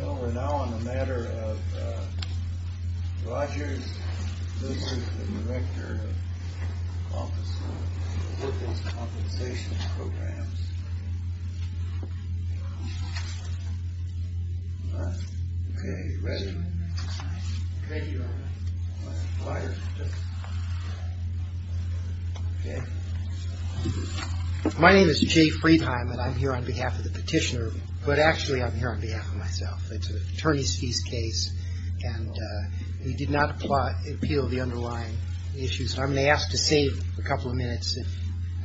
Well, we're now on the matter of Rogers. This is the director of the Office of Workers' Compensation Programs. All right. Okay. Ready? Thank you. My name is Jay Friedheim, and I'm here on behalf of the petitioner, but actually I'm here on behalf of myself. It's an attorney's fees case, and we did not appeal the underlying issues. I'm going to ask to save a couple of minutes if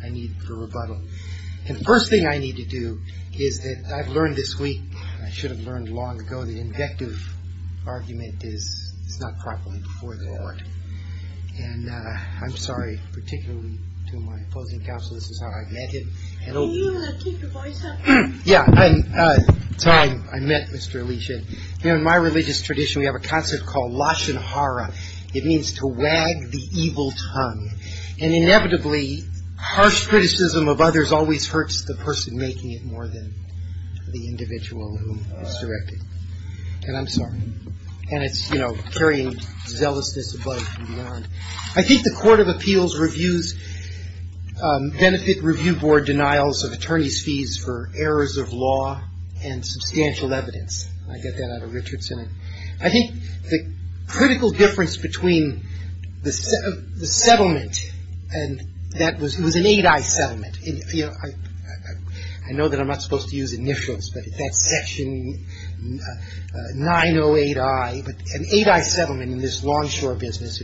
I need to rebuttal. And the first thing I need to do is that I've learned this week, I should have learned long ago, so the invective argument is it's not properly before the Lord. And I'm sorry, particularly to my opposing counsel, this is how I've met him. Can you keep your voice up? Yeah, that's how I met Mr. Elisha. You know, in my religious tradition we have a concept called Lashon Hara. It means to wag the evil tongue. And inevitably harsh criticism of others always hurts the person making it more than the individual who has directed it. And I'm sorry. And it's, you know, carrying zealousness above and beyond. I think the Court of Appeals reviews benefit review board denials of attorney's fees for errors of law and substantial evidence. I get that out of Richardson. I think the critical difference between the settlement and that was an 8i settlement. I know that I'm not supposed to use initials, but that's section 908i. But an 8i settlement in this longshore business,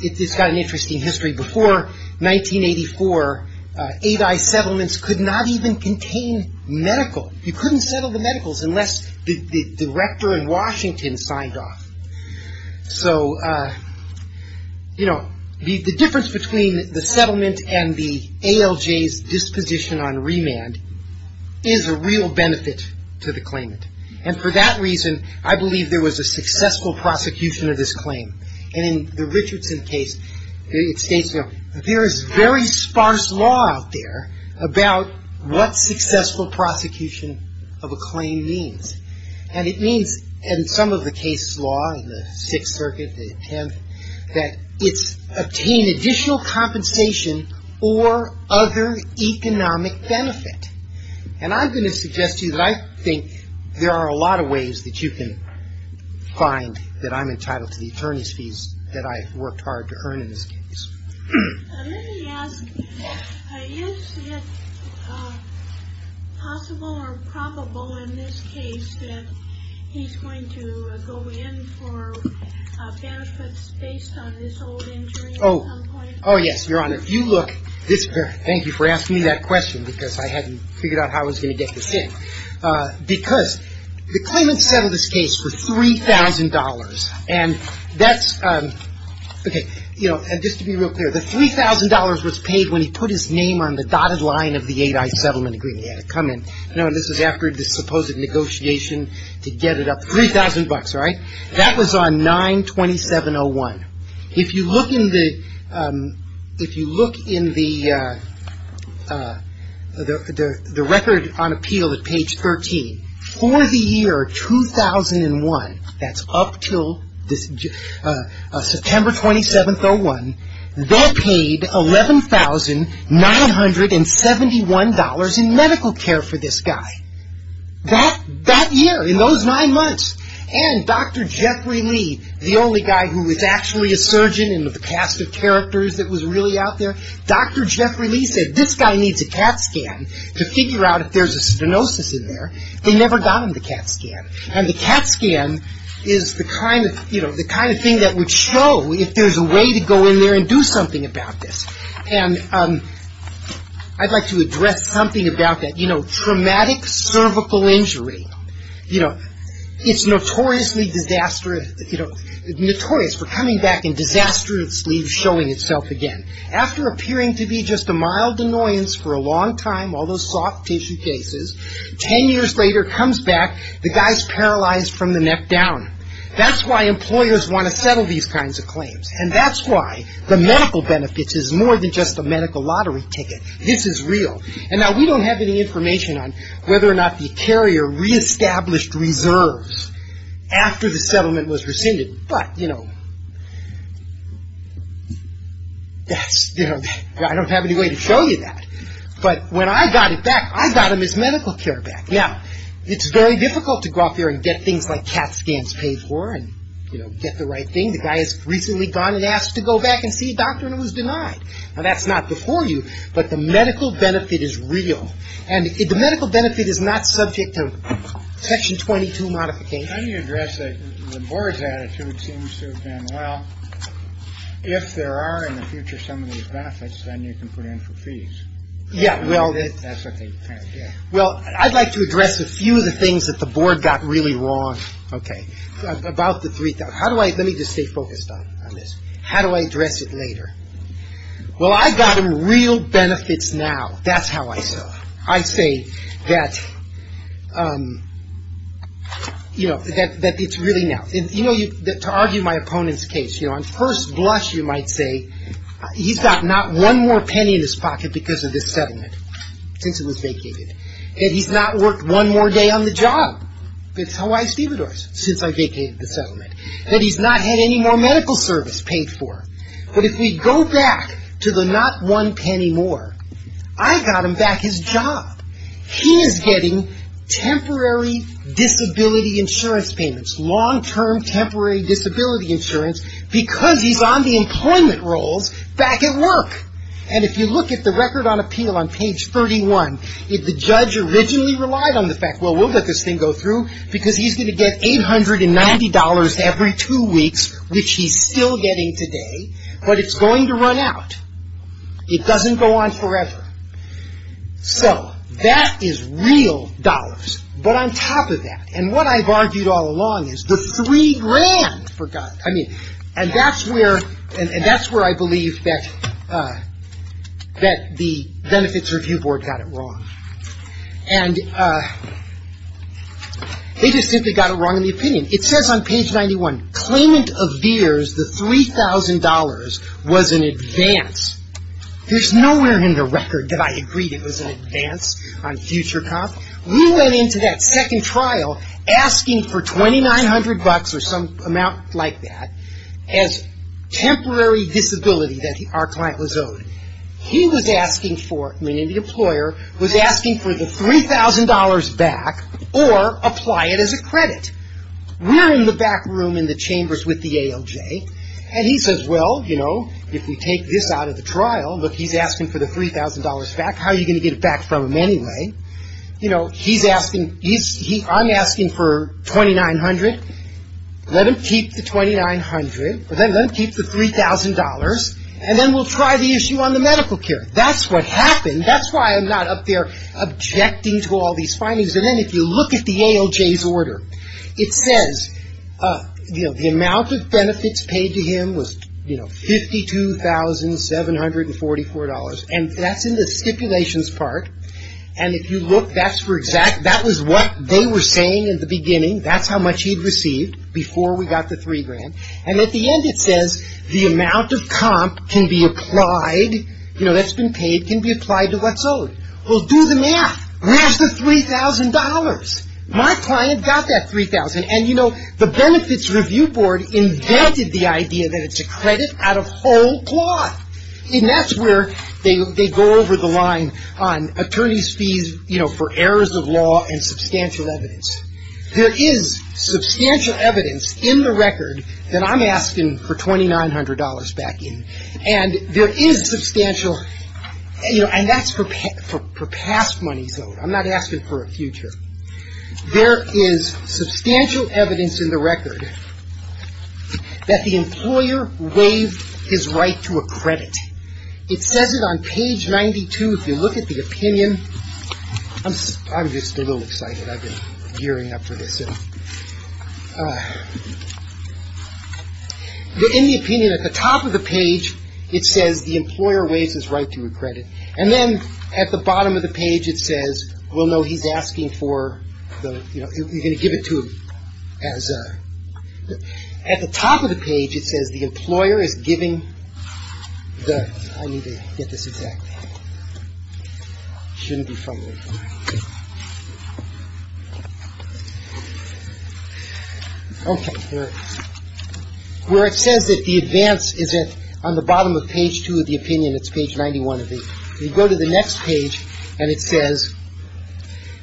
it's got an interesting history. Before 1984, 8i settlements could not even contain medical. You couldn't settle the medicals unless the director in Washington signed off. So, you know, the difference between the settlement and the ALJ's disposition on remand is a real benefit to the claimant. And for that reason, I believe there was a successful prosecution of this claim. And in the Richardson case, it states, you know, there is very sparse law out there about what successful prosecution of a claim means. And it means in some of the case law in the Sixth Circuit, the 10th, that it's obtained additional compensation or other economic benefit. And I'm going to suggest to you that I think there are a lot of ways that you can find that I'm entitled to the attorney's fees that I worked hard to earn in this case. Let me ask, is it possible or probable in this case that he's going to go in for benefits based on this old injury at some point? Oh, yes, Your Honor. If you look, thank you for asking me that question because I hadn't figured out how I was going to get this in. Because the claimant settled this case for $3,000. And that's, okay, you know, just to be real clear, the $3,000 was paid when he put his name on the dotted line of the 8i settlement agreement. He had to come in. You know, this was after the supposed negotiation to get it up, $3,000, right? That was on 9-2701. If you look in the record on appeal at page 13, for the year 2001, that's up until September 27th, 01, they paid $11,971 in medical care for this guy. That year, in those nine months. And Dr. Jeffrey Lee, the only guy who was actually a surgeon in the cast of characters that was really out there, Dr. Jeffrey Lee said, this guy needs a CAT scan to figure out if there's a stenosis in there. They never got him the CAT scan. And the CAT scan is the kind of thing that would show if there's a way to go in there and do something about this. And I'd like to address something about that. You know, traumatic cervical injury, you know, it's notoriously disastrous, you know, notorious for coming back and disastrously showing itself again. After appearing to be just a mild annoyance for a long time, all those soft tissue cases, 10 years later, comes back, the guy's paralyzed from the neck down. And that's why the medical benefits is more than just a medical lottery ticket. This is real. And now, we don't have any information on whether or not the carrier reestablished reserves after the settlement was rescinded. But, you know, I don't have any way to show you that. But when I got it back, I got him his medical care back. Now, it's very difficult to go out there and get things like CAT scans paid for and, you know, get the right thing. The guy has recently gone and asked to go back and see a doctor and was denied. Now, that's not before you. But the medical benefit is real. And the medical benefit is not subject to Section 22 modification. How do you address it? The board's attitude seems to have been, well, if there are in the future some of these benefits, then you can put in for fees. Yeah, well. That's what they kind of did. Well, I'd like to address a few of the things that the board got really wrong, okay, about the three. Let me just stay focused on this. How do I address it later? Well, I got him real benefits now. That's how I saw it. I'd say that, you know, that it's really now. You know, to argue my opponent's case, you know, on first blush you might say he's got not one more penny in his pocket because of this settlement since it was vacated. And he's not worked one more day on the job. That's how I see the doors since I vacated the settlement. That he's not had any more medical service paid for. But if we go back to the not one penny more, I got him back his job. He is getting temporary disability insurance payments, long-term temporary disability insurance because he's on the employment rolls back at work. And if you look at the record on appeal on page 31, if the judge originally relied on the fact, well, we'll let this thing go through because he's going to get $890 every two weeks, which he's still getting today. But it's going to run out. It doesn't go on forever. So that is real dollars. But on top of that, and what I've argued all along is the three grand for guys. And that's where I believe that the Benefits Review Board got it wrong. And they just simply got it wrong in the opinion. It says on page 91, claimant of beers, the $3,000 was an advance. There's nowhere in the record that I agreed it was an advance on future comp. We went into that second trial asking for $2,900 or some amount like that as temporary disability that our client was owed. He was asking for, meaning the employer, was asking for the $3,000 back or apply it as a credit. We're in the back room in the chambers with the ALJ. And he says, well, you know, if we take this out of the trial, look, he's asking for the $3,000 back. How are you going to get it back from him anyway? You know, he's asking, I'm asking for $2,900. Let him keep the $2,900, or let him keep the $3,000, and then we'll try the issue on the medical care. That's what happened. That's why I'm not up there objecting to all these findings. And then if you look at the ALJ's order, it says, you know, the amount of benefits paid to him was, you know, $52,744. And that's in the stipulations part. And if you look, that's for exact, that was what they were saying at the beginning. That's how much he'd received before we got the three grand. And at the end it says, the amount of comp can be applied, you know, that's been paid, can be applied to what's owed. Well, do the math. Where's the $3,000? My client got that $3,000. And, you know, the Benefits Review Board invented the idea that it's a credit out of whole cloth. And that's where they go over the line on attorney's fees, you know, for errors of law and substantial evidence. There is substantial evidence in the record that I'm asking for $2,900 back in. And there is substantial, you know, and that's for past monies owed. I'm not asking for a future. There is substantial evidence in the record that the employer waived his right to a credit. It says it on page 92. If you look at the opinion, I'm just a little excited. I've been gearing up for this. In the opinion at the top of the page, it says the employer waives his right to a credit. And then at the bottom of the page, it says, well, no, he's asking for the, you know, you're going to give it to him as a. At the top of the page, it says the employer is giving the. I need to get this exact. Shouldn't be from. Okay. Where it says that the advance isn't on the bottom of page two of the opinion, it's page 91 of it. You go to the next page and it says,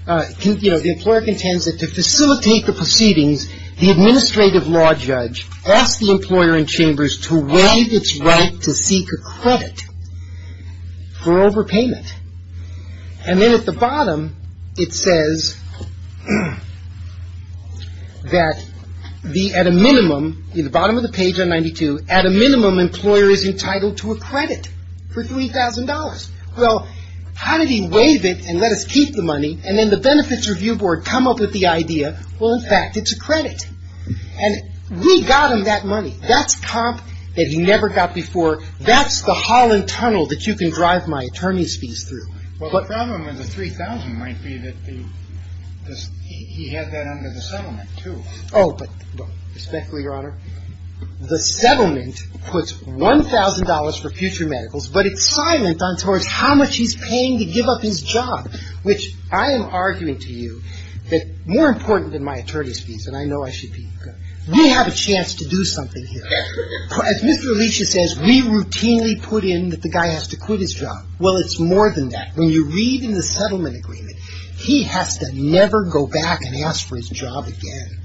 you know, the employer contends that to facilitate the proceedings, the administrative law judge asked the employer in chambers to waive its right to seek a credit for overpayment. And then at the bottom, it says that the at a minimum in the bottom of the page on 92 at a minimum, employer is entitled to a credit for $3000. Well, how did he waive it and let us keep the money? And then the benefits review board come up with the idea. Well, in fact, it's a credit. And we got him that money. That's comp that he never got before. That's the hall and tunnel that you can drive my attorney's fees through. Well, the problem with the 3000 might be that he had that under the settlement, too. Oh, but respectfully, Your Honor, the settlement puts $1000 for future medicals, but it's silent on towards how much he's paying to give up his job, which I am arguing to you that more important than my attorney's fees, and I know I should be. We have a chance to do something here. As Mr. Alicia says, we routinely put in that the guy has to quit his job. Well, it's more than that. When you read in the settlement agreement, he has to never go back and ask for his job again.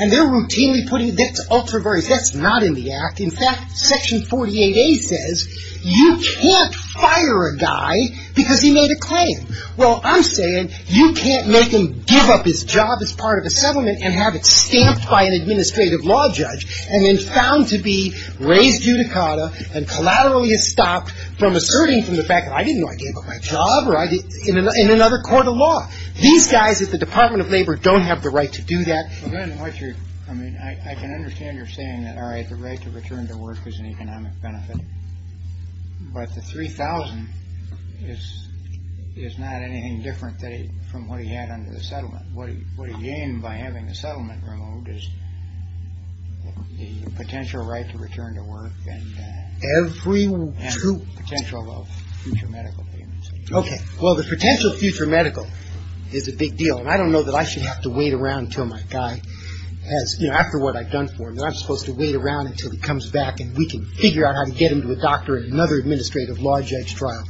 And they're routinely putting it. That's ultra-various. That's not in the act. In fact, Section 48A says you can't fire a guy because he made a claim. Well, I'm saying you can't make him give up his job as part of a settlement and have it stamped by an administrative law judge and then found to be raised judicata and collaterally estopped from asserting from the fact that I didn't know I gave up my job in another court of law. These guys at the Department of Labor don't have the right to do that. Well, then what you're – I mean, I can understand you're saying that, all right, the right to return to work is an economic benefit, but the 3000 is not anything different from what he had under the settlement. What he gained by having the settlement removed is the potential right to return to work and – Every – And the potential of future medical payments. Okay. Well, the potential future medical is a big deal, and I don't know that I should have to wait around until my guy has – you know, after what I've done for him, I'm supposed to wait around until he comes back and we can figure out how to get him to a doctor and another administrative law judge trial.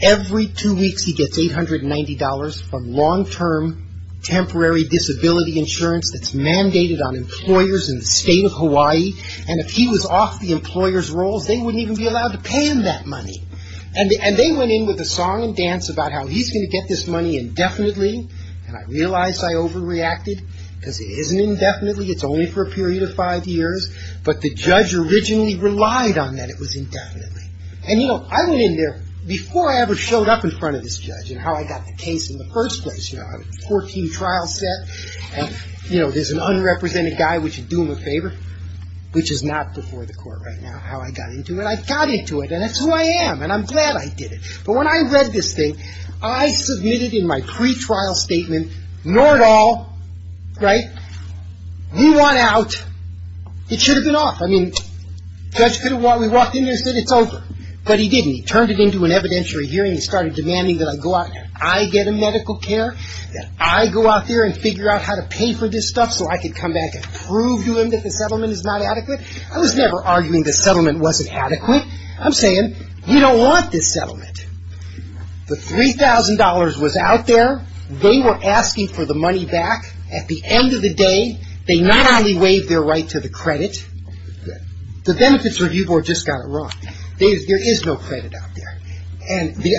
Every two weeks he gets $890 from long-term temporary disability insurance that's mandated on employers in the state of Hawaii, and if he was off the employer's rolls, they wouldn't even be allowed to pay him that money. And they went in with a song and dance about how he's going to get this money indefinitely, and I realize I overreacted because it isn't indefinitely. It's only for a period of five years, but the judge originally relied on that it was indefinitely. And, you know, I went in there before I ever showed up in front of this judge and how I got the case in the first place. You know, I had a 14-trial set, and, you know, there's an unrepresented guy, we should do him a favor, which is not before the court right now, how I got into it. I got into it, and that's who I am, and I'm glad I did it. But when I read this thing, I submitted in my pretrial statement, nor at all, right, we want out. It should have been off. I mean, the judge could have walked in there and said it's over, but he didn't. He turned it into an evidentiary hearing and started demanding that I go out, that I get a medical care, that I go out there and figure out how to pay for this stuff so I could come back and prove to him that the settlement is not adequate. I was never arguing the settlement wasn't adequate. I'm saying you don't want this settlement. The $3,000 was out there. They were asking for the money back. At the end of the day, they not only waived their right to the credit. The Benefits Review Board just got it wrong. There is no credit out there. And the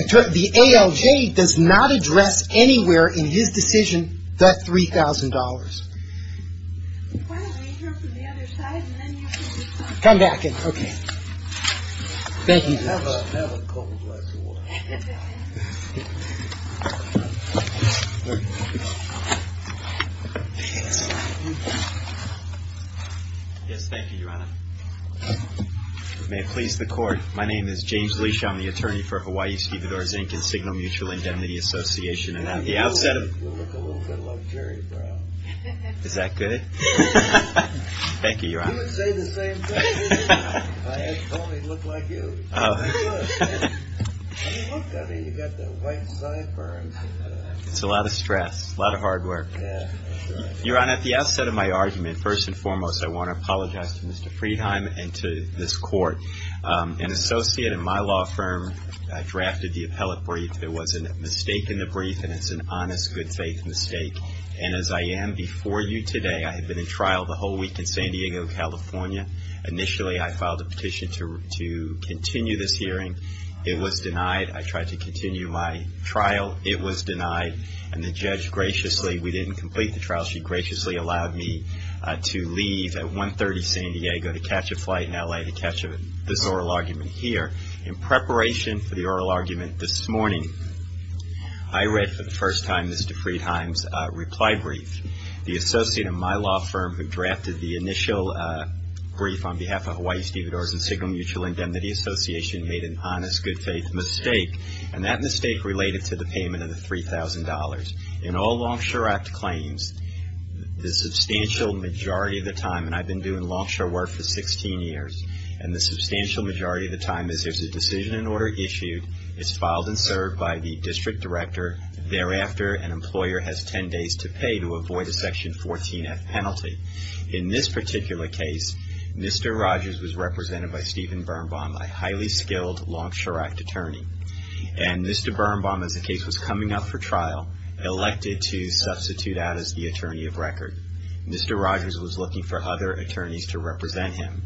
ALJ does not address anywhere in his decision that $3,000. Come back. Okay. Thank you. Yes, thank you, Your Honor. May it please the Court. My name is James Leach. I'm the attorney for Hawaii Stevens Inc. and Signal Mutual Indemnity Association. You look a little bit like Jerry Brown. Is that good? Thank you, Your Honor. You would say the same thing. I had told him he looked like you. You look good. I mean, you've got the white sideburns. It's a lot of stress, a lot of hard work. Your Honor, at the outset of my argument, first and foremost, I want to apologize to Mr. Friedheim and to this Court. An associate in my law firm drafted the appellate brief. There was a mistake in the brief, and it's an honest, good-faith mistake. And as I am before you today, I have been in trial the whole week in San Diego, California. Initially, I filed a petition to continue this hearing. It was denied. I tried to continue my trial. It was denied. And the judge graciously, we didn't complete the trial. She graciously allowed me to leave at 1.30 San Diego to catch a flight in L.A. to catch this oral argument here. In preparation for the oral argument this morning, I read for the first time Mr. Friedheim's reply brief. The associate in my law firm who drafted the initial brief on behalf of Hawaii Stevedores and Signal Mutual Indemnity Association made an honest, good-faith mistake, and that mistake related to the payment of the $3,000. In all Longshore Act claims, the substantial majority of the time, and I've been doing Longshore work for 16 years, and the substantial majority of the time is there's a decision in order issued. It's filed and served by the district director. Thereafter, an employer has 10 days to pay to avoid a Section 14-F penalty. In this particular case, Mr. Rogers was represented by Stephen Birnbaum, a highly skilled Longshore Act attorney. And Mr. Birnbaum, as the case was coming up for trial, elected to substitute out as the attorney of record. Mr. Rogers was looking for other attorneys to represent him.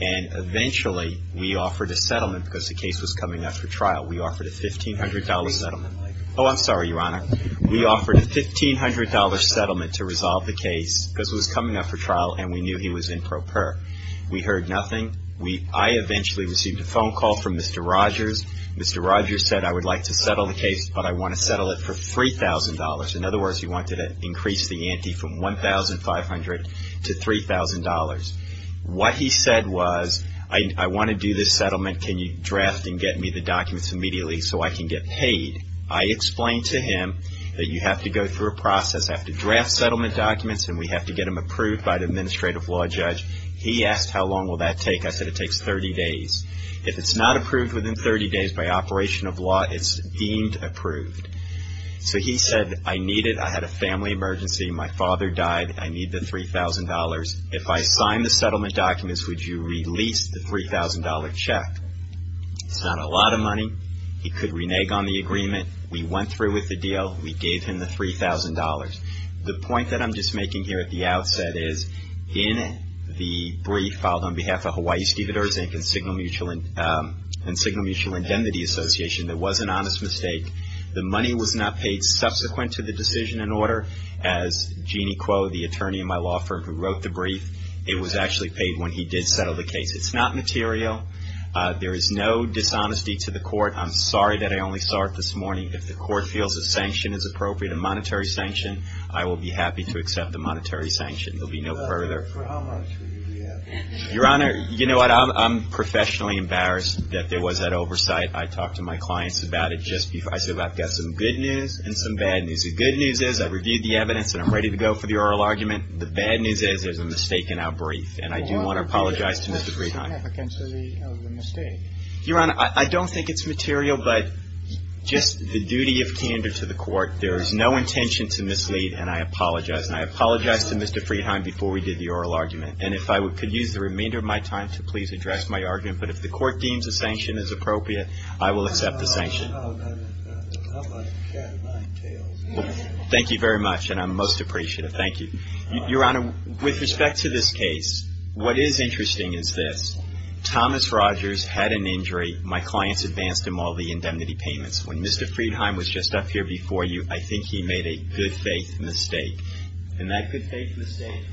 And eventually, we offered a settlement because the case was coming up for trial. We offered a $1,500 settlement. Oh, I'm sorry, Your Honor. We offered a $1,500 settlement to resolve the case because it was coming up for trial and we knew he was improper. We heard nothing. I eventually received a phone call from Mr. Rogers. Mr. Rogers said, I would like to settle the case, but I want to settle it for $3,000. In other words, he wanted to increase the ante from $1,500 to $3,000. What he said was, I want to do this settlement. Can you draft and get me the documents immediately so I can get paid? I explained to him that you have to go through a process. I have to draft settlement documents and we have to get them approved by the administrative law judge. He asked, how long will that take? I said, it takes 30 days. If it's not approved within 30 days by operation of law, it's deemed approved. So he said, I need it. I had a family emergency. My father died. I need the $3,000. If I sign the settlement documents, would you release the $3,000 check? It's not a lot of money. He could renege on the agreement. We went through with the deal. We gave him the $3,000. The point that I'm just making here at the outset is, in the brief filed on behalf of Hawaii, Stephen Erzank and Signal Mutual Indemnity Association, there was an honest mistake. The money was not paid subsequent to the decision and order. As Jeannie Kuo, the attorney in my law firm who wrote the brief, it was actually paid when he did settle the case. It's not material. There is no dishonesty to the court. I'm sorry that I only saw it this morning. If the court feels a sanction is appropriate, a monetary sanction, I will be happy to accept the monetary sanction. There will be no further. Your Honor, you know what? I'm professionally embarrassed that there was that oversight. I talked to my clients about it just before. I said, well, I've got some good news and some bad news. The good news is I've reviewed the evidence and I'm ready to go for the oral argument. The bad news is there's a mistake in our brief, and I do want to apologize to Mr. Friedheim. Your Honor, I don't think it's material, but just the duty of candor to the court. There is no intention to mislead, and I apologize. And I apologized to Mr. Friedheim before we did the oral argument. And if I could use the remainder of my time to please address my argument. But if the court deems a sanction is appropriate, I will accept the sanction. Well, thank you very much, and I'm most appreciative. Thank you. Your Honor, with respect to this case, what is interesting is this. Thomas Rogers had an injury. My clients advanced him all the indemnity payments. When Mr. Friedheim was just up here before you, I think he made a good faith mistake. And that good faith mistake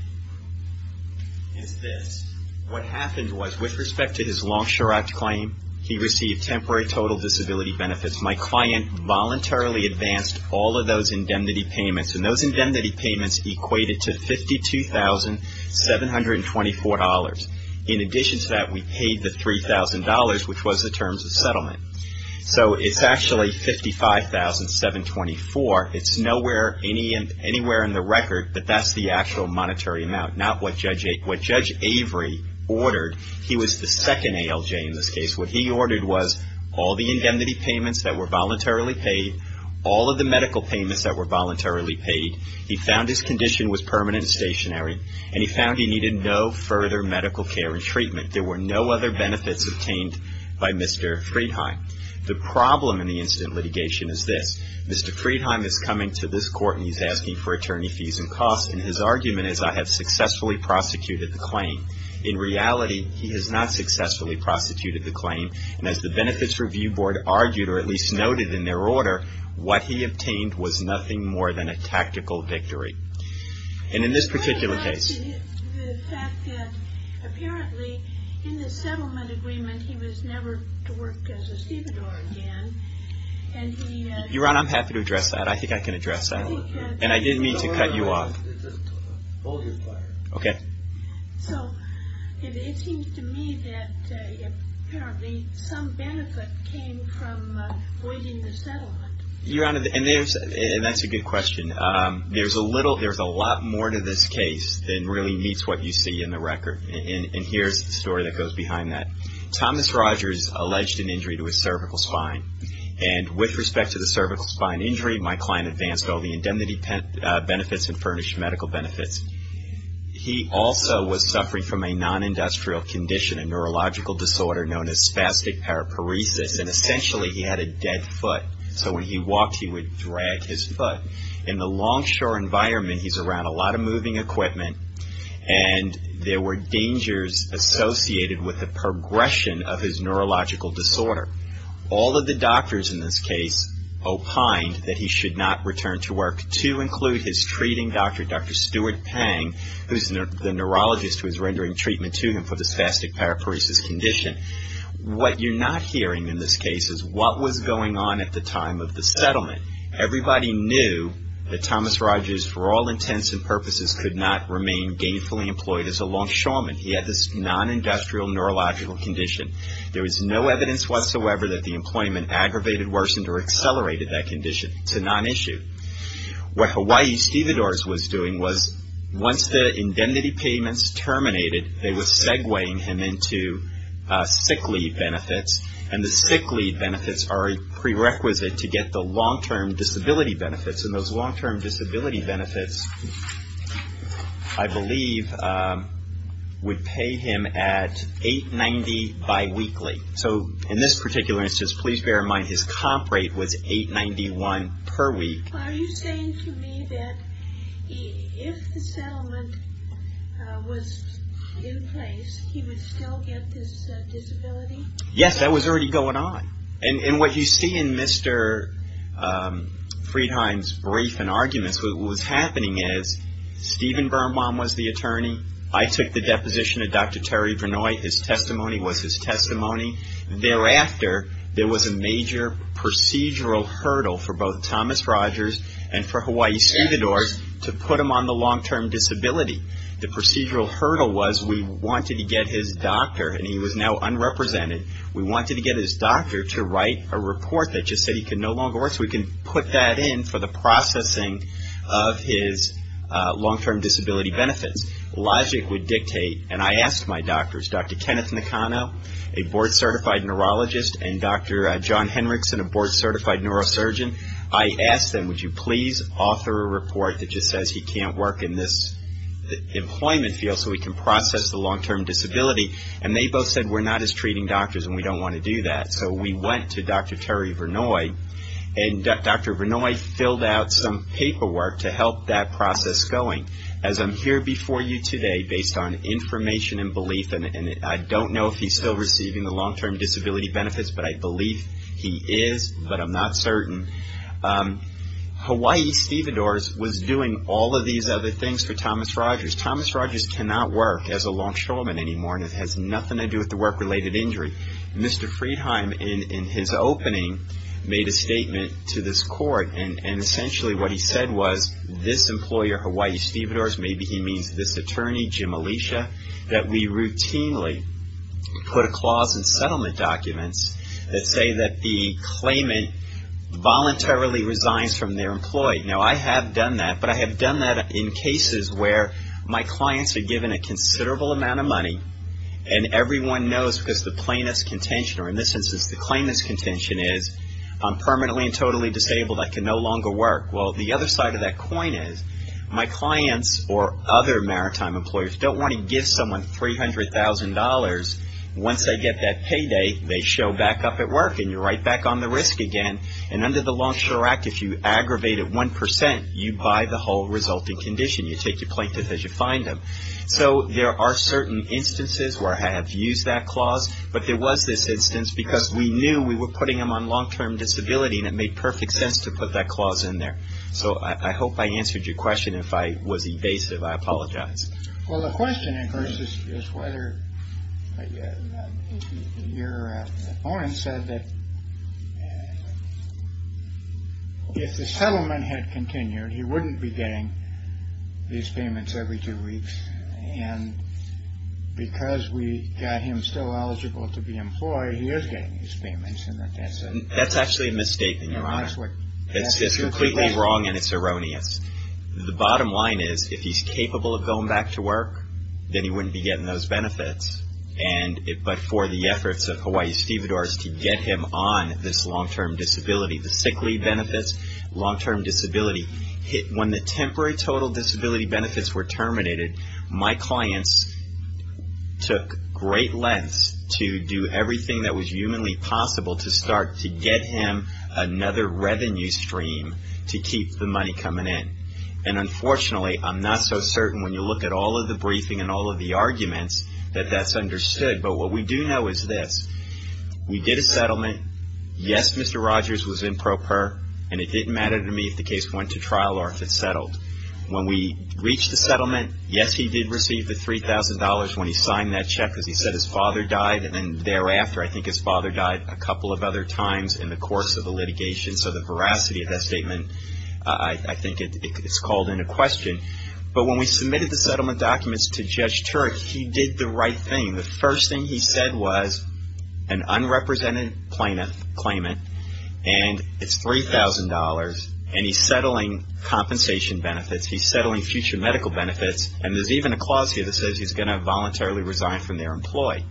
is this. What happened was, with respect to his Longshore Act claim, he received temporary total disability benefits. My client voluntarily advanced all of those indemnity payments, and those indemnity payments equated to $52,724. In addition to that, we paid the $3,000, which was the terms of settlement. So it's actually $55,724. It's nowhere anywhere in the record that that's the actual monetary amount, not what Judge Avery ordered. He was the second ALJ in this case. What he ordered was all the indemnity payments that were voluntarily paid, all of the medical payments that were voluntarily paid. He found his condition was permanent and stationary, and he found he needed no further medical care and treatment. There were no other benefits obtained by Mr. Friedheim. The problem in the incident litigation is this. Mr. Friedheim is coming to this court, and he's asking for attorney fees and costs, and his argument is, I have successfully prosecuted the claim. In reality, he has not successfully prosecuted the claim, and as the Benefits Review Board argued, or at least noted in their order, what he obtained was nothing more than a tactical victory. And in this particular case. The fact that apparently in the settlement agreement, he was never to work as a stevedore again. Your Honor, I'm happy to address that. I think I can address that. And I didn't mean to cut you off. Okay. So, it seems to me that apparently some benefit came from voiding the settlement. Your Honor, and that's a good question. There's a lot more to this case than really meets what you see in the record, and here's the story that goes behind that. Thomas Rogers alleged an injury to his cervical spine, and with respect to the cervical spine injury, my client advanced all the indemnity benefits and furnished medical benefits. He also was suffering from a non-industrial condition, a neurological disorder known as spastic paraparesis, and essentially he had a dead foot. So when he walked, he would drag his foot. In the longshore environment, he's around a lot of moving equipment, and there were dangers associated with the progression of his neurological disorder. All of the doctors in this case opined that he should not return to work, to include his treating doctor, Dr. Stuart Pang, who's the neurologist who's rendering treatment to him for the spastic paraparesis condition. What you're not hearing in this case is what was going on at the time of the settlement. Everybody knew that Thomas Rogers, for all intents and purposes, could not remain gainfully employed as a longshoreman. He had this non-industrial neurological condition. There was no evidence whatsoever that the employment aggravated, worsened, or accelerated that condition. It's a non-issue. What Hawaii Stevedores was doing was once the indemnity payments terminated, they were segueing him into sick leave benefits, and the sick leave benefits are a prerequisite to get the long-term disability benefits, and those long-term disability benefits, I believe, would pay him at $8.90 biweekly. So in this particular instance, please bear in mind, his comp rate was $8.91 per week. Are you saying to me that if the settlement was in place, he would still get this disability? Yes, that was already going on. And what you see in Mr. Friedheim's brief and arguments, what was happening is Stephen Birnbaum was the attorney. I took the deposition of Dr. Terry Vernoy. His testimony was his testimony. Thereafter, there was a major procedural hurdle for both Thomas Rogers and for Hawaii Stevedores to put him on the long-term disability. The procedural hurdle was we wanted to get his doctor, and he was now unrepresented. We wanted to get his doctor to write a report that just said he could no longer work, so we can put that in for the processing of his long-term disability benefits. Logic would dictate, and I asked my doctors, Dr. Kenneth Nakano, a board-certified neurologist, and Dr. John Henrickson, a board-certified neurosurgeon, I asked them, would you please author a report that just says he can't work in this employment field so we can process the long-term disability, and they both said we're not as treating doctors and we don't want to do that. So we went to Dr. Terry Vernoy, and Dr. Vernoy filled out some paperwork to help that process going. As I'm here before you today, based on information and belief, and I don't know if he's still receiving the long-term disability benefits, but I believe he is, but I'm not certain. Hawaii Stevedores was doing all of these other things for Thomas Rogers. Thomas Rogers cannot work as a longshoreman anymore, and it has nothing to do with the work-related injury. Mr. Friedheim, in his opening, made a statement to this court, and essentially what he said was this employer, Hawaii Stevedores, maybe he means this attorney, Jim Alicia, that we routinely put a clause in settlement documents that say that the claimant voluntarily resigns from their employee. Now, I have done that, but I have done that in cases where my clients are given a considerable amount of money and everyone knows because the plaintiff's contention, or in this instance, the claimant's contention is I'm permanently and totally disabled. I can no longer work. Well, the other side of that coin is my clients or other maritime employers don't want to give someone $300,000. Once they get that payday, they show back up at work, and you're right back on the risk again. And under the Longshore Act, if you aggravate it 1%, you buy the whole resulting condition. You take your plaintiff as you find them. So there are certain instances where I have used that clause, but there was this instance because we knew we were putting them on long-term disability, and it made perfect sense to put that clause in there. So I hope I answered your question. If I was evasive, I apologize. Well, the question, of course, is whether your opponent said that if the settlement had continued, he wouldn't be getting these payments every two weeks, and because we got him still eligible to be employed, he is getting these payments. That's actually a mistake, Your Honor. It's completely wrong, and it's erroneous. The bottom line is if he's capable of going back to work, then he wouldn't be getting those benefits. But for the efforts of Hawaii Stevedores to get him on this long-term disability, the sick leave benefits, long-term disability, when the temporary total disability benefits were terminated, my clients took great lengths to do everything that was humanly possible to start to get him another revenue stream to keep the money coming in. And unfortunately, I'm not so certain when you look at all of the briefing and all of the arguments that that's understood. But what we do know is this. We did a settlement. Yes, Mr. Rogers was in pro per, and it didn't matter to me if the case went to trial or if it settled. When we reached the settlement, yes, he did receive the $3,000 when he signed that check because he said his father died, and then thereafter, I think his father died a couple of other times in the course of the litigation. So the veracity of that statement, I think it's called into question. But when we submitted the settlement documents to Judge Turek, he did the right thing. The first thing he said was an unrepresented plaintiff, claimant, and it's $3,000, and he's settling compensation benefits. He's settling future medical benefits, and there's even a clause here that says he's going to voluntarily resign from their employee.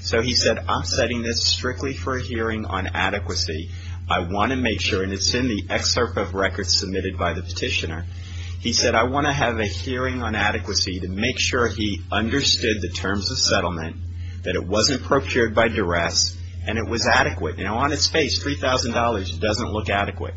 So he said, I'm setting this strictly for a hearing on adequacy. I want to make sure, and it's in the excerpt of records submitted by the petitioner. He said, I want to have a hearing on adequacy to make sure he understood the terms of settlement, that it wasn't procured by duress, and it was adequate. You know, on its face, $3,000 doesn't look adequate.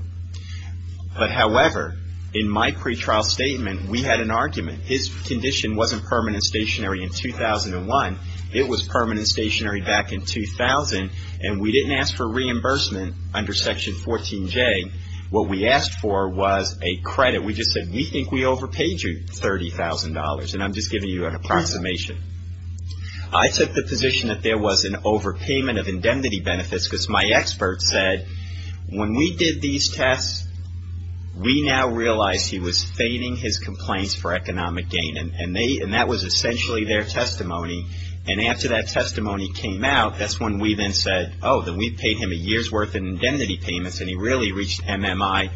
His condition wasn't permanent and stationary in 2001. It was permanent and stationary back in 2000, and we didn't ask for reimbursement under Section 14J. What we asked for was a credit. We just said, we think we overpaid you $30,000, and I'm just giving you an approximation. I took the position that there was an overpayment of indemnity benefits because my expert said, when we did these tests, we now realized he was fading his complaints for economic gain, and that was essentially their testimony, and after that testimony came out, that's when we then said, oh, then we paid him a year's worth in indemnity payments, and he really reached MMI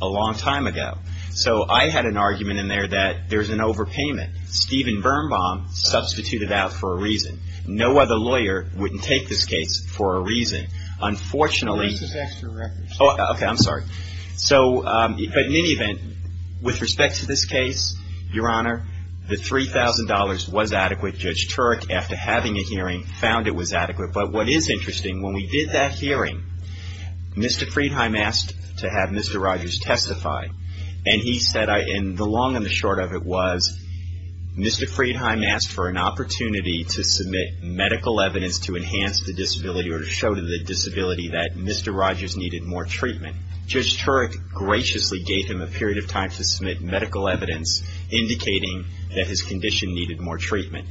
a long time ago. So I had an argument in there that there's an overpayment. Stephen Birnbaum substituted out for a reason. No other lawyer wouldn't take this case for a reason. Unfortunately. This is extra records. Oh, okay. I'm sorry. So, but in any event, with respect to this case, Your Honor, the $3,000 was adequate. Judge Turek, after having a hearing, found it was adequate. But what is interesting, when we did that hearing, Mr. Friedheim asked to have Mr. Rogers testify, and he said, and the long and the short of it was, Mr. Friedheim asked for an opportunity to submit medical evidence to enhance the disability or to show to the disability that Mr. Rogers needed more treatment. Judge Turek graciously gave him a period of time to submit medical evidence indicating that his condition needed more treatment.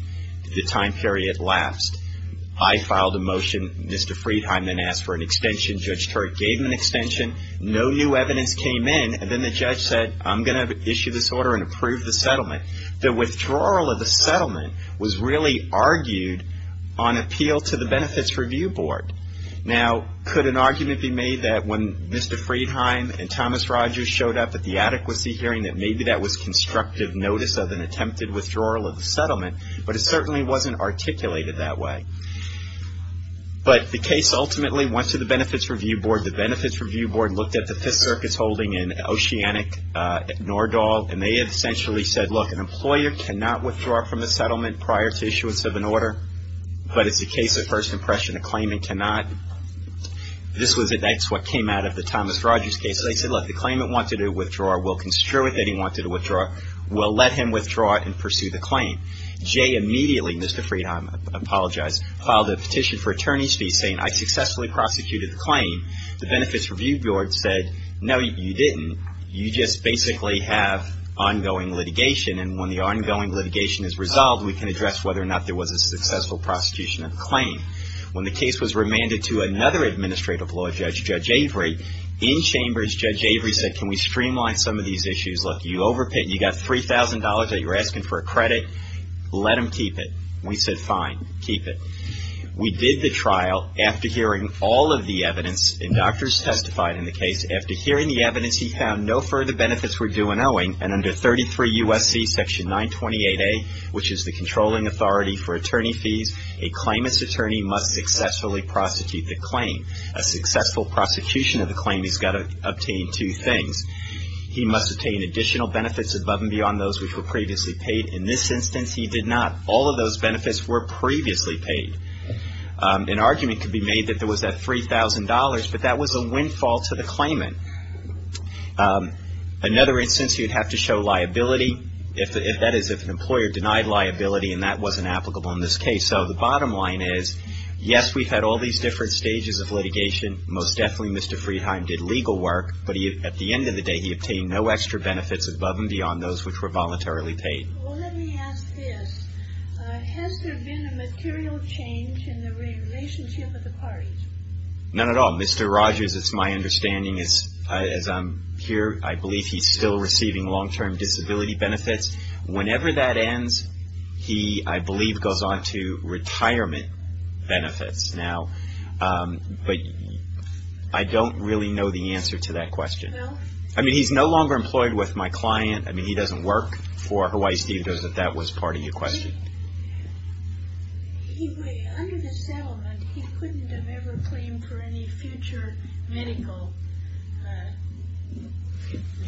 The time period lapsed. I filed a motion. Mr. Friedheim then asked for an extension. Judge Turek gave him an extension. No new evidence came in, and then the judge said, I'm going to issue this order and approve the settlement. The withdrawal of the settlement was really argued on appeal to the Benefits Review Board. Now, could an argument be made that when Mr. Friedheim and Thomas Rogers showed up at the adequacy hearing, that maybe that was constructive notice of an attempted withdrawal of the settlement? But it certainly wasn't articulated that way. But the case ultimately went to the Benefits Review Board. The Benefits Review Board looked at the Fifth Circuit's holding in Oceanic, Nordahl, and they had essentially said, look, an employer cannot withdraw from the settlement prior to issuance of an order, but it's a case of first impression. A claimant cannot. That's what came out of the Thomas Rogers case. They said, look, the claimant wanted a withdrawal. We'll construe it that he wanted a withdrawal. We'll let him withdraw it and pursue the claim. Jay immediately, Mr. Friedheim, I apologize, filed a petition for attorney's fees saying, I successfully prosecuted the claim. The Benefits Review Board said, no, you didn't. You just basically have ongoing litigation, and when the ongoing litigation is resolved, we can address whether or not there was a successful prosecution of the claim. When the case was remanded to another administrative law judge, Judge Avery, in chambers, Judge Avery said, can we streamline some of these issues? Look, you overpaid. You got $3,000 that you're asking for a credit. Let him keep it. We said, fine, keep it. We did the trial. After hearing all of the evidence, and doctors testified in the case, after hearing the evidence, he found no further benefits were due in owing, and under 33 U.S.C. section 928A, which is the controlling authority for attorney fees, a claimant's attorney must successfully prosecute the claim. A successful prosecution of the claim has got to obtain two things. He must obtain additional benefits above and beyond those which were previously paid. In this instance, he did not. All of those benefits were previously paid. An argument could be made that there was that $3,000, but that was a windfall to the claimant. Another instance, he would have to show liability, that is if an employer denied liability and that wasn't applicable in this case. So the bottom line is, yes, we've had all these different stages of litigation. Most definitely, Mr. Friedheim did legal work, but at the end of the day, he obtained no extra benefits above and beyond those which were voluntarily paid. Well, let me ask this. Has there been a material change in the relationship with the parties? None at all. Mr. Rogers, it's my understanding, as I'm here, I believe he's still receiving long-term disability benefits. Whenever that ends, he, I believe, goes on to retirement benefits. Now, but I don't really know the answer to that question. No? I mean, he's no longer employed with my client. I mean, he doesn't work for Hawaii Steve Does if that was part of your question. Under the settlement, he couldn't have ever claimed for any future medical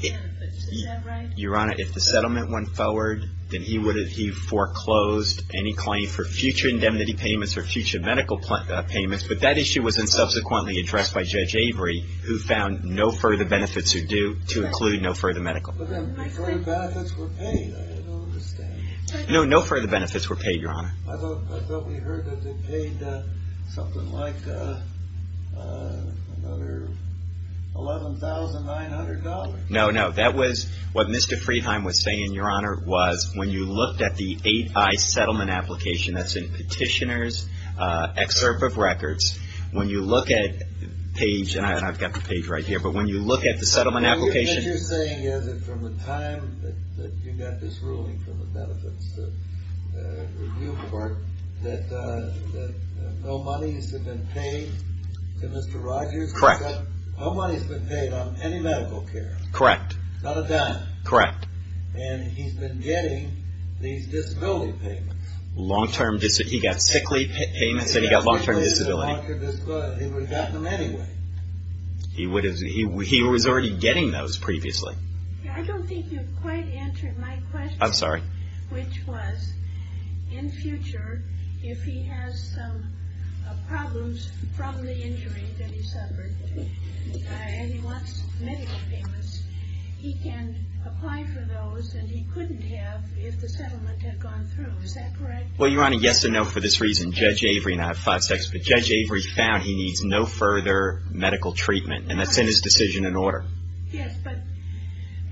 benefits. Is that right? Your Honor, if the settlement went forward, then he foreclosed any claim for future indemnity payments or future medical payments, but that issue was then subsequently addressed by Judge Avery, who found no further benefits are due to include no further medical. But then, before the benefits were paid, I don't understand. No, no further benefits were paid, Your Honor. I thought we heard that they paid something like another $11,900. No, no. That was what Mr. Freheim was saying, Your Honor, was when you looked at the 8i settlement application, that's in Petitioner's Excerpt of Records, when you look at page, and I've got the page right here, but when you look at the settlement application. What you're saying is that from the time that you got this ruling from the Benefits Review Court that no money has been paid to Mr. Rogers? Correct. No money has been paid on any medical care. Correct. Not a dime. Correct. And he's been getting these disability payments. He got sick leave payments and he got long-term disability. He would have gotten them anyway. He was already getting those previously. I don't think you've quite answered my question. I'm sorry. Which was, in future, if he has some problems from the injury that he suffered, and he wants medical payments, he can apply for those, and he couldn't have if the settlement had gone through. Is that correct? Well, Your Honor, yes and no for this reason. Judge Avery, and I have five seconds, but Judge Avery found he needs no further medical treatment, and that's in his decision and order. Yes, but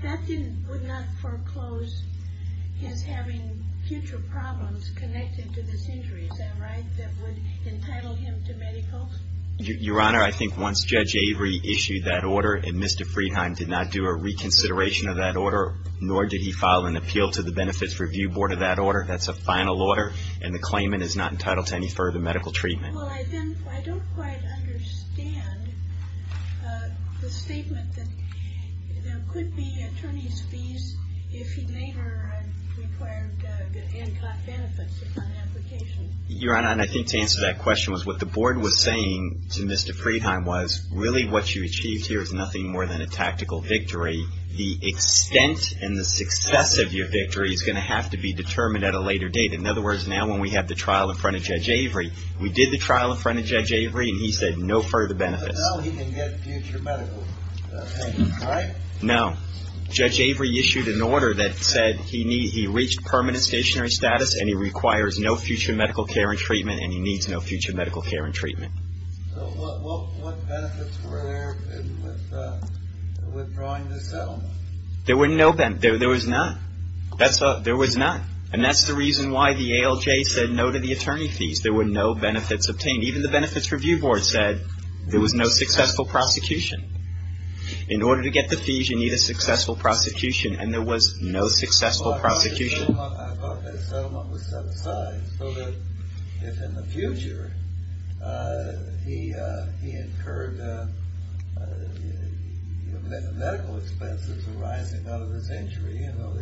that would not foreclose his having future problems connected to this injury. Is that right? That would entitle him to medical? Your Honor, I think once Judge Avery issued that order and Mr. Friedheim did not do a reconsideration of that order, nor did he file an appeal to the Benefits Review Board of that order, that's a final order, and the claimant is not entitled to any further medical treatment. Well, I don't quite understand the statement that there could be attorney's fees if he later required good ANCOT benefits upon application. Your Honor, and I think to answer that question, what the board was saying to Mr. Friedheim was, really what you achieved here is nothing more than a tactical victory. The extent and the success of your victory is going to have to be determined at a later date. In other words, now when we have the trial in front of Judge Avery, we did the trial in front of Judge Avery and he said no further benefits. But now he can get future medical treatment, right? No. Judge Avery issued an order that said he reached permanent stationary status and he requires no future medical care and treatment and he needs no future medical care and treatment. So what benefits were there with withdrawing the settlement? There were no benefits. There was none. There was none. And that's the reason why the ALJ said no to the attorney fees. There were no benefits obtained. Even the Benefits Review Board said there was no successful prosecution. In order to get the fees, you need a successful prosecution, and there was no successful prosecution. I thought that settlement was set aside so that if in the future he incurred medical expenses arising out of his injury, you know,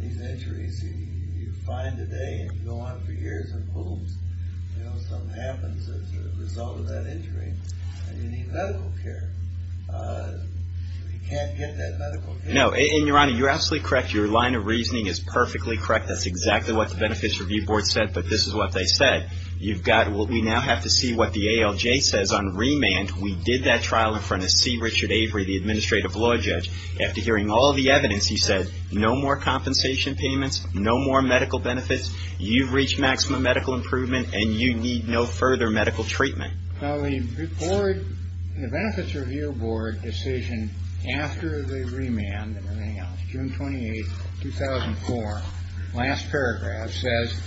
these injuries you find today and go on for years and boom, something happens as a result of that injury and you need medical care. He can't get that medical care. No. And, Your Honor, you're absolutely correct. Your line of reasoning is perfectly correct. That's exactly what the Benefits Review Board said, but this is what they said. You've got what we now have to see what the ALJ says on remand. We did that trial in front of C. Richard Avery, the administrative law judge. After hearing all the evidence, he said no more compensation payments, no more medical benefits. You've reached maximum medical improvement and you need no further medical treatment. Now, the Benefits Review Board decision after the remand, June 28, 2004, last paragraph, says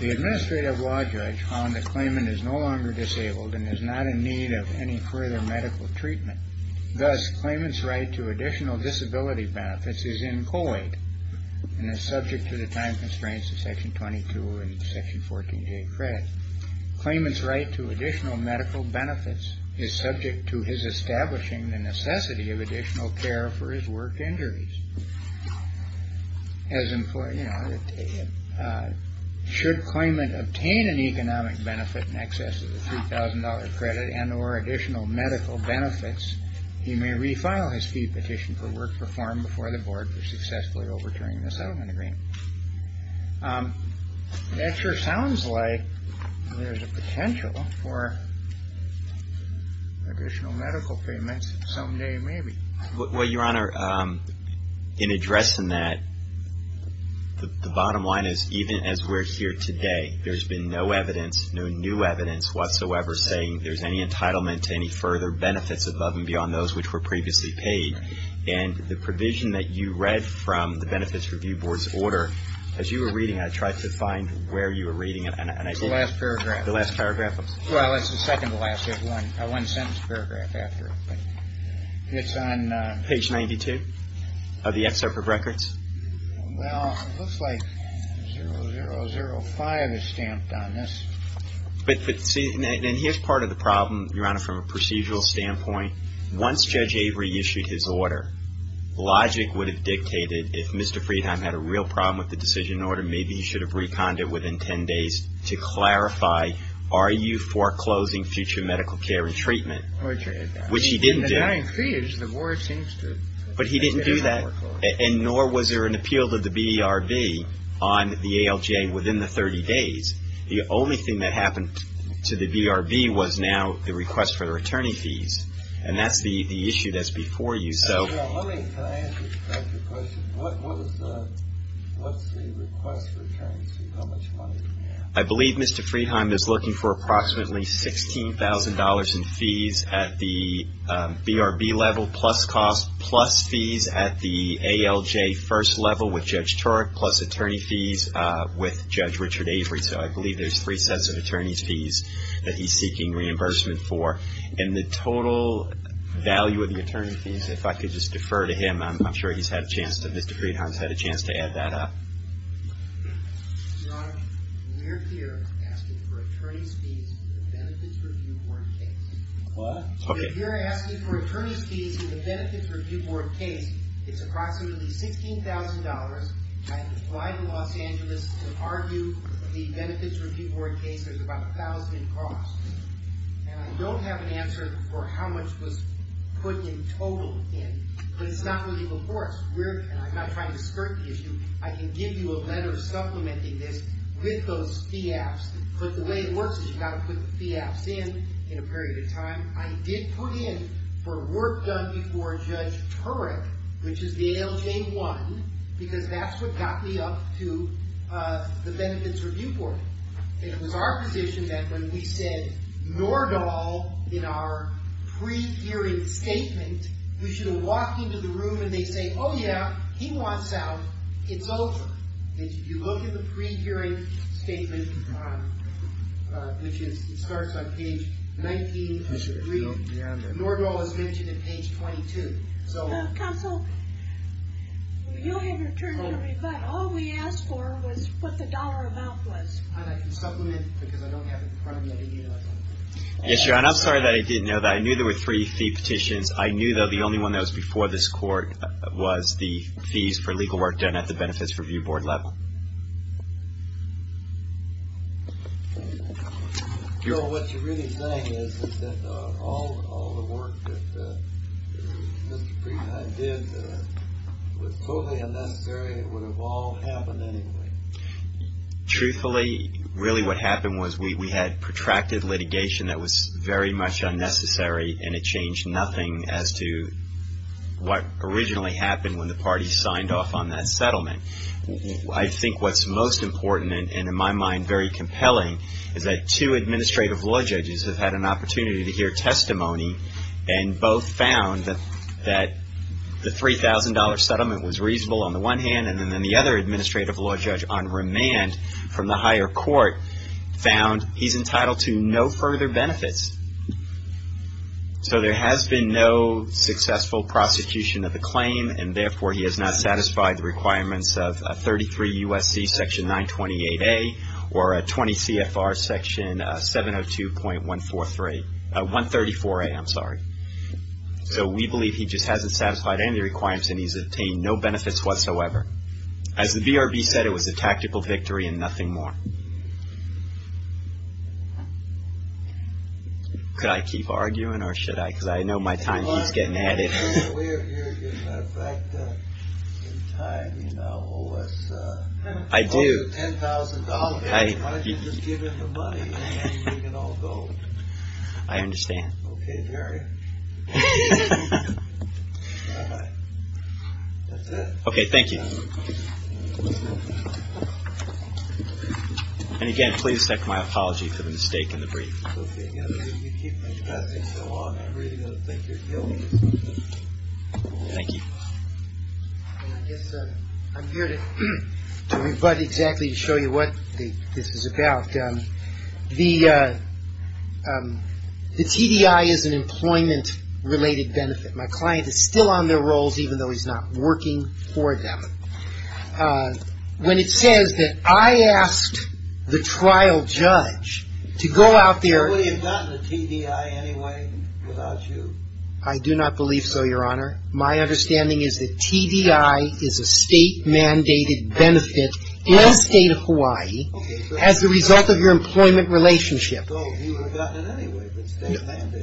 the administrative law judge found the claimant is no longer disabled and is not in need of any further medical treatment. Thus, claimant's right to additional disability benefits is employed and is subject to the time constraints of Section 22 and Section 14J credit. Claimant's right to additional medical benefits is subject to his establishing the necessity of additional care for his work injuries. Should claimant obtain an economic benefit in excess of the $3,000 credit and or additional medical benefits, he may refile his fee petition for work performed before the board for successfully overturning the settlement agreement. That sure sounds like there's a potential for additional medical payments someday, maybe. Well, Your Honor, in addressing that, the bottom line is even as we're here today, there's been no evidence, no new evidence whatsoever saying there's any entitlement to any further benefits above and beyond those which were previously paid. And the provision that you read from the Benefits Review Board's order, as you were reading it, I tried to find where you were reading it. It's the last paragraph. The last paragraph? Well, it's the second to last. There's one sentence paragraph after it. It's on page 92 of the excerpt of records. Well, it looks like 0005 is stamped on this. But see, and here's part of the problem, Your Honor, from a procedural standpoint. Once Judge Avery issued his order, logic would have dictated if Mr. Friedheim had a real problem with the decision order, maybe he should have reconned it within 10 days to clarify, are you foreclosing future medical care and treatment, which he didn't do. I mean, in the nine fees, the board seems to have foreclosed. But he didn't do that, and nor was there an appeal to the BRB on the ALJ within the 30 days. The only thing that happened to the BRB was now the request for the returning fees. And that's the issue that's before you. Can I ask you a question? What's the request for returning fees? How much money do you have? I believe Mr. Friedheim is looking for approximately $16,000 in fees at the BRB level, plus costs, plus fees at the ALJ first level with Judge Turek, plus attorney fees with Judge Richard Avery. So I believe there's three sets of attorney's fees that he's seeking reimbursement for. And the total value of the attorney fees, if I could just defer to him, I'm sure he's had a chance to, Mr. Friedheim's had a chance to add that up. Your Honor, we're here asking for attorney's fees for the Benefits Review Board case. What? We're here asking for attorney's fees for the Benefits Review Board case. It's approximately $16,000. I have applied to Los Angeles to argue the Benefits Review Board case. There's about a thousand costs. And I don't have an answer for how much was put in total in. But it's not waiting before us. And I'm not trying to skirt the issue. I can give you a letter supplementing this with those fee apps. But the way it works is you've got to put the fee apps in in a period of time. I did put in for work done before Judge Turek, which is the ALJ 1, because that's what got me up to the Benefits Review Board. It was our position that when we said Nordahl in our pre-hearing statement, we should have walked into the room and they say, oh, yeah, he wants out, it's over. If you look in the pre-hearing statement, which starts on page 19. Nordahl is mentioned in page 22. Counsel, you'll have your turn to reply. All we asked for was what the dollar amount was. And I can supplement because I don't have it in front of me. Yes, Your Honor, I'm sorry that I didn't know that. I knew there were three fee petitions. I knew, though, the only one that was before this Court was the fees for legal work done at the Benefits Review Board level. Your Honor, what you're really saying is that all the work that Mr. Preet and I did was totally unnecessary and it would have all happened anyway. Truthfully, really what happened was we had protracted litigation that was very much unnecessary and it changed nothing as to what originally happened when the parties signed off on that settlement. I think what's most important and, in my mind, very compelling, is that two administrative law judges have had an opportunity to hear testimony and both found that the $3,000 settlement was reasonable on the one hand and then the other administrative law judge on remand from the higher court found he's entitled to no further benefits. So there has been no successful prosecution of the claim and therefore he has not satisfied the requirements of 33 U.S.C. section 928A or 20 CFR section 702.143, 134A, I'm sorry. So we believe he just hasn't satisfied any of the requirements and he's obtained no benefits whatsoever. As the BRB said, it was a tactical victory and nothing more. Could I keep arguing or should I? Because I know my time keeps getting added. We are here, as a matter of fact, in time. You now owe us almost $10,000. Why don't you just give him the money and he can all go? I understand. Okay, here I am. That's it. Okay, thank you. And again, please accept my apology for the mistake in the brief. Okay, you keep investing so long, I really don't think you're guilty. Thank you. I guess I'm here to invite exactly to show you what this is about. The TDI is an employment-related benefit. My client is still on their rolls even though he's not working for them. When it says that I asked the trial judge to go out there Would he have gotten a TDI anyway without you? I do not believe so, Your Honor. My understanding is that TDI is a state-mandated benefit in the state of Hawaii. Okay. As a result of your employment relationship. So he would have gotten it anyway.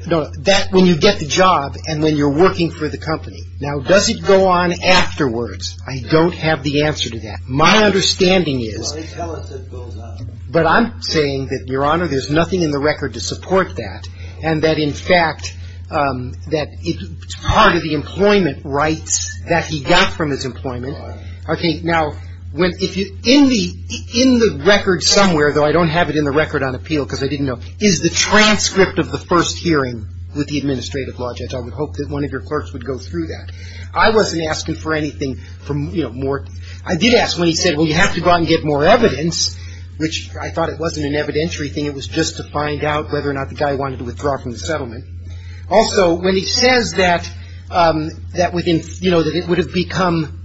No, that's when you get the job and when you're working for the company. Now, does it go on afterwards? I don't have the answer to that. My understanding is Well, they tell us it goes on. But I'm saying that, Your Honor, there's nothing in the record to support that, and that, in fact, that part of the employment rights that he got from his employment Okay. Now, in the record somewhere, though I don't have it in the record on appeal because I didn't know, is the transcript of the first hearing with the administrative law judge. I would hope that one of your clerks would go through that. I wasn't asking for anything from, you know, more I did ask when he said, well, you have to go out and get more evidence, which I thought it wasn't an evidentiary thing. It was just to find out whether or not the guy wanted to withdraw from the settlement. Also, when he says that, you know, that it would have become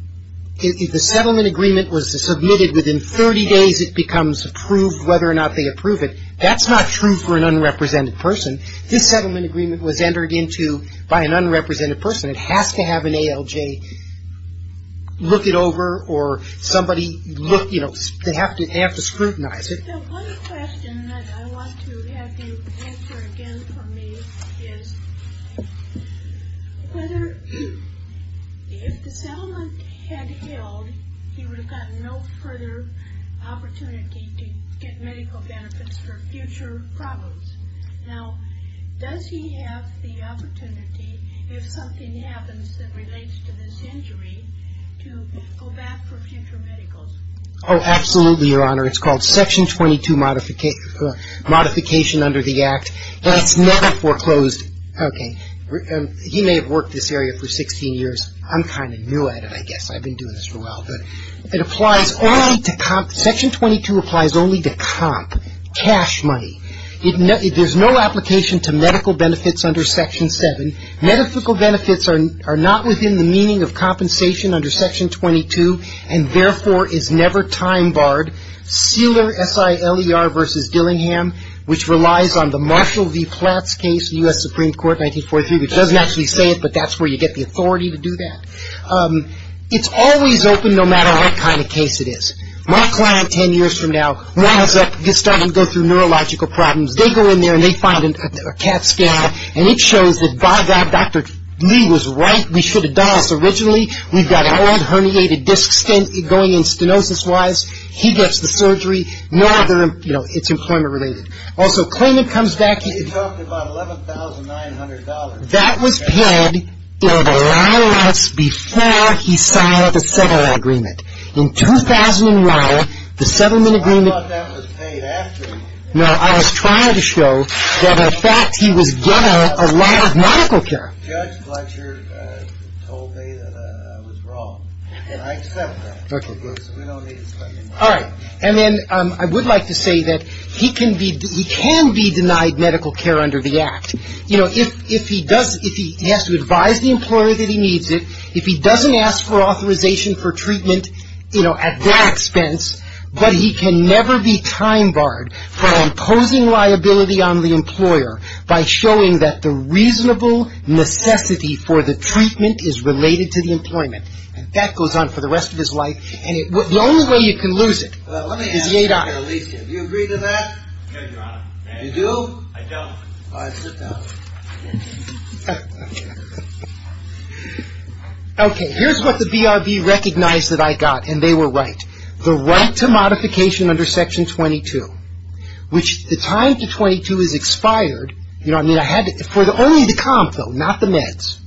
if the settlement agreement was submitted within 30 days, it becomes approved whether or not they approve it. That's not true for an unrepresented person. This settlement agreement was entered into by an unrepresented person. It has to have an ALJ look it over or somebody look, you know, they have to scrutinize it. The one question that I want to have you answer again for me is whether if the settlement had held, he would have gotten no further opportunity to get medical benefits for future problems. Now, does he have the opportunity if something happens that relates to this injury to go back for future medicals? Oh, absolutely, Your Honor. It's called Section 22 modification under the Act. And it's never foreclosed. Okay. He may have worked this area for 16 years. I'm kind of new at it, I guess. I've been doing this for a while. But it applies only to comp. Section 22 applies only to comp, cash money. There's no application to medical benefits under Section 7. Medical benefits are not within the meaning of compensation under Section 22 and therefore is never time barred. Seeler, S-I-L-E-R versus Dillingham, which relies on the Marshall v. Platts case, U.S. Supreme Court, 1943, which doesn't actually say it, but that's where you get the authority to do that. It's always open no matter what kind of case it is. My client 10 years from now winds up starting to go through neurological problems. They go in there and they find a CAT scan, and it shows that, by God, Dr. Lee was right. We should have done this originally. We've got an old herniated disc going in stenosis-wise. He gets the surgery. Nor, you know, it's employment-related. Also, claimant comes back. You talked about $11,900. That was paid a lot of months before he signed the settlement agreement. In 2001, the settlement agreement. I thought that was paid after. No, I was trying to show that, in fact, he was getting a lot of medical care. Judge Fletcher told me that I was wrong, and I accept that. Okay. We don't need to spend any more money. All right. And then I would like to say that he can be denied medical care under the Act. You know, if he does, if he has to advise the employer that he needs it, if he doesn't ask for authorization for treatment, you know, at their expense, but he can never be time-barred from imposing liability on the employer by showing that the reasonable necessity for the treatment is related to the employment. And that goes on for the rest of his life. And the only way you can lose it is yet on. Let me ask you, Alicia. Do you agree to that? No, Your Honor. You do? I don't. All right. Sit down. Okay. Here's what the BRB recognized that I got, and they were right. The right to modification under Section 22, which the time to 22 is expired. You know, I mean, I had to, for only the comp, though, not the meds.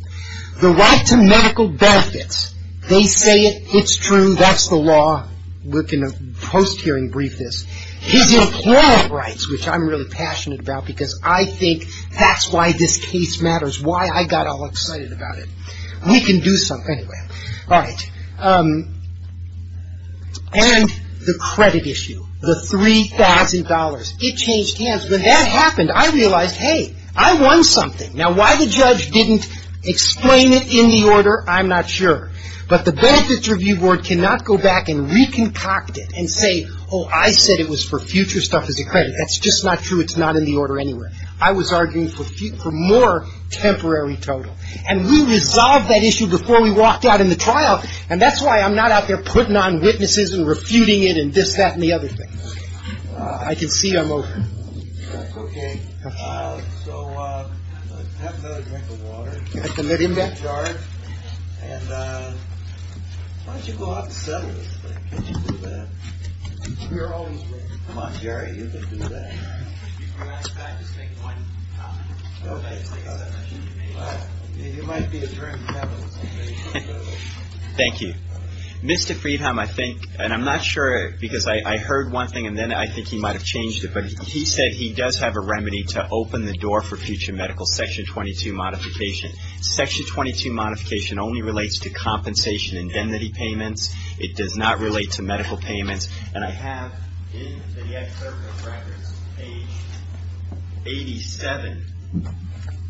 The right to medical benefits. They say it. It's true. That's the law. We're going to post-hearing brief this. His employment rights, which I'm really passionate about because I think that's why this case matters, We can do something. Anyway. All right. And the credit issue, the $3,000. It changed hands. When that happened, I realized, hey, I won something. Now, why the judge didn't explain it in the order, I'm not sure. But the Benefits Review Board cannot go back and reconcoct it and say, oh, I said it was for future stuff as a credit. That's just not true. It's not in the order anyway. I was arguing for more temporary total. And we resolved that issue before we walked out in the trial. And that's why I'm not out there putting on witnesses and refuting it and this, that and the other thing. I can see I'm over. Okay. So have another drink of water. And let him back. And why don't you go out and settle this thing? Can't you do that? We're always ready. Come on, Jerry. You can do that. If you'd like that, just make one comment. It might be a drink. Thank you. Mr. Friedhelm, I think, and I'm not sure because I heard one thing and then I think he might have changed it, but he said he does have a remedy to open the door for future medical Section 22 modification. Section 22 modification only relates to compensation and indemnity payments. It does not relate to medical payments. And I have in the excerpt of records, page 87,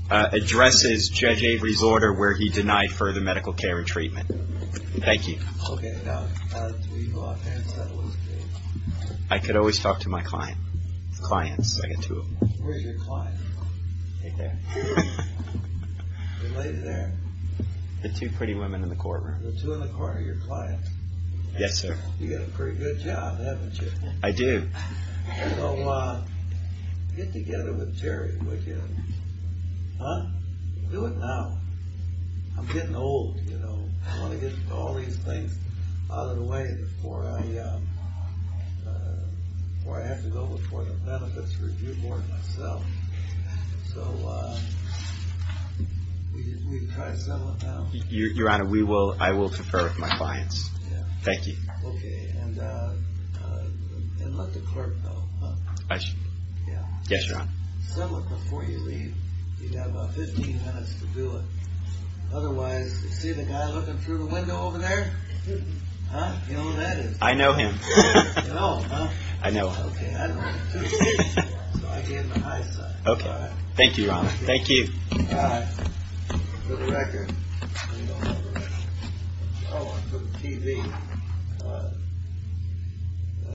addresses Judge Avery's order where he denied further medical care and treatment. Thank you. Okay. Now, do you go out and settle this case? I could always talk to my client. Clients. I got two of them. Where's your client? Right there. The lady there. The two pretty women in the courtroom. The two in the corner are your clients. Yes, sir. You got a pretty good job, haven't you? I do. So, get together with Terry, would you? Huh? Do it now. I'm getting old, you know. I want to get all these things out of the way before I have to go look for the benefits for you more than myself. So, we can try to settle it now. Your Honor, I will confer with my clients. Thank you. Okay. And let the clerk know, huh? I should? Yeah. Yes, Your Honor. Settle it before you leave. You've got about 15 minutes to do it. Otherwise, you see the guy looking through the window over there? Huh? You know who that is? I know him. You know him, huh? I know him. Okay. I don't know him too well. So, I gave him a high five. Okay. Thank you, Your Honor. Thank you. All right. Put a record. I don't have a record. Oh, I put the TV. All right. All right.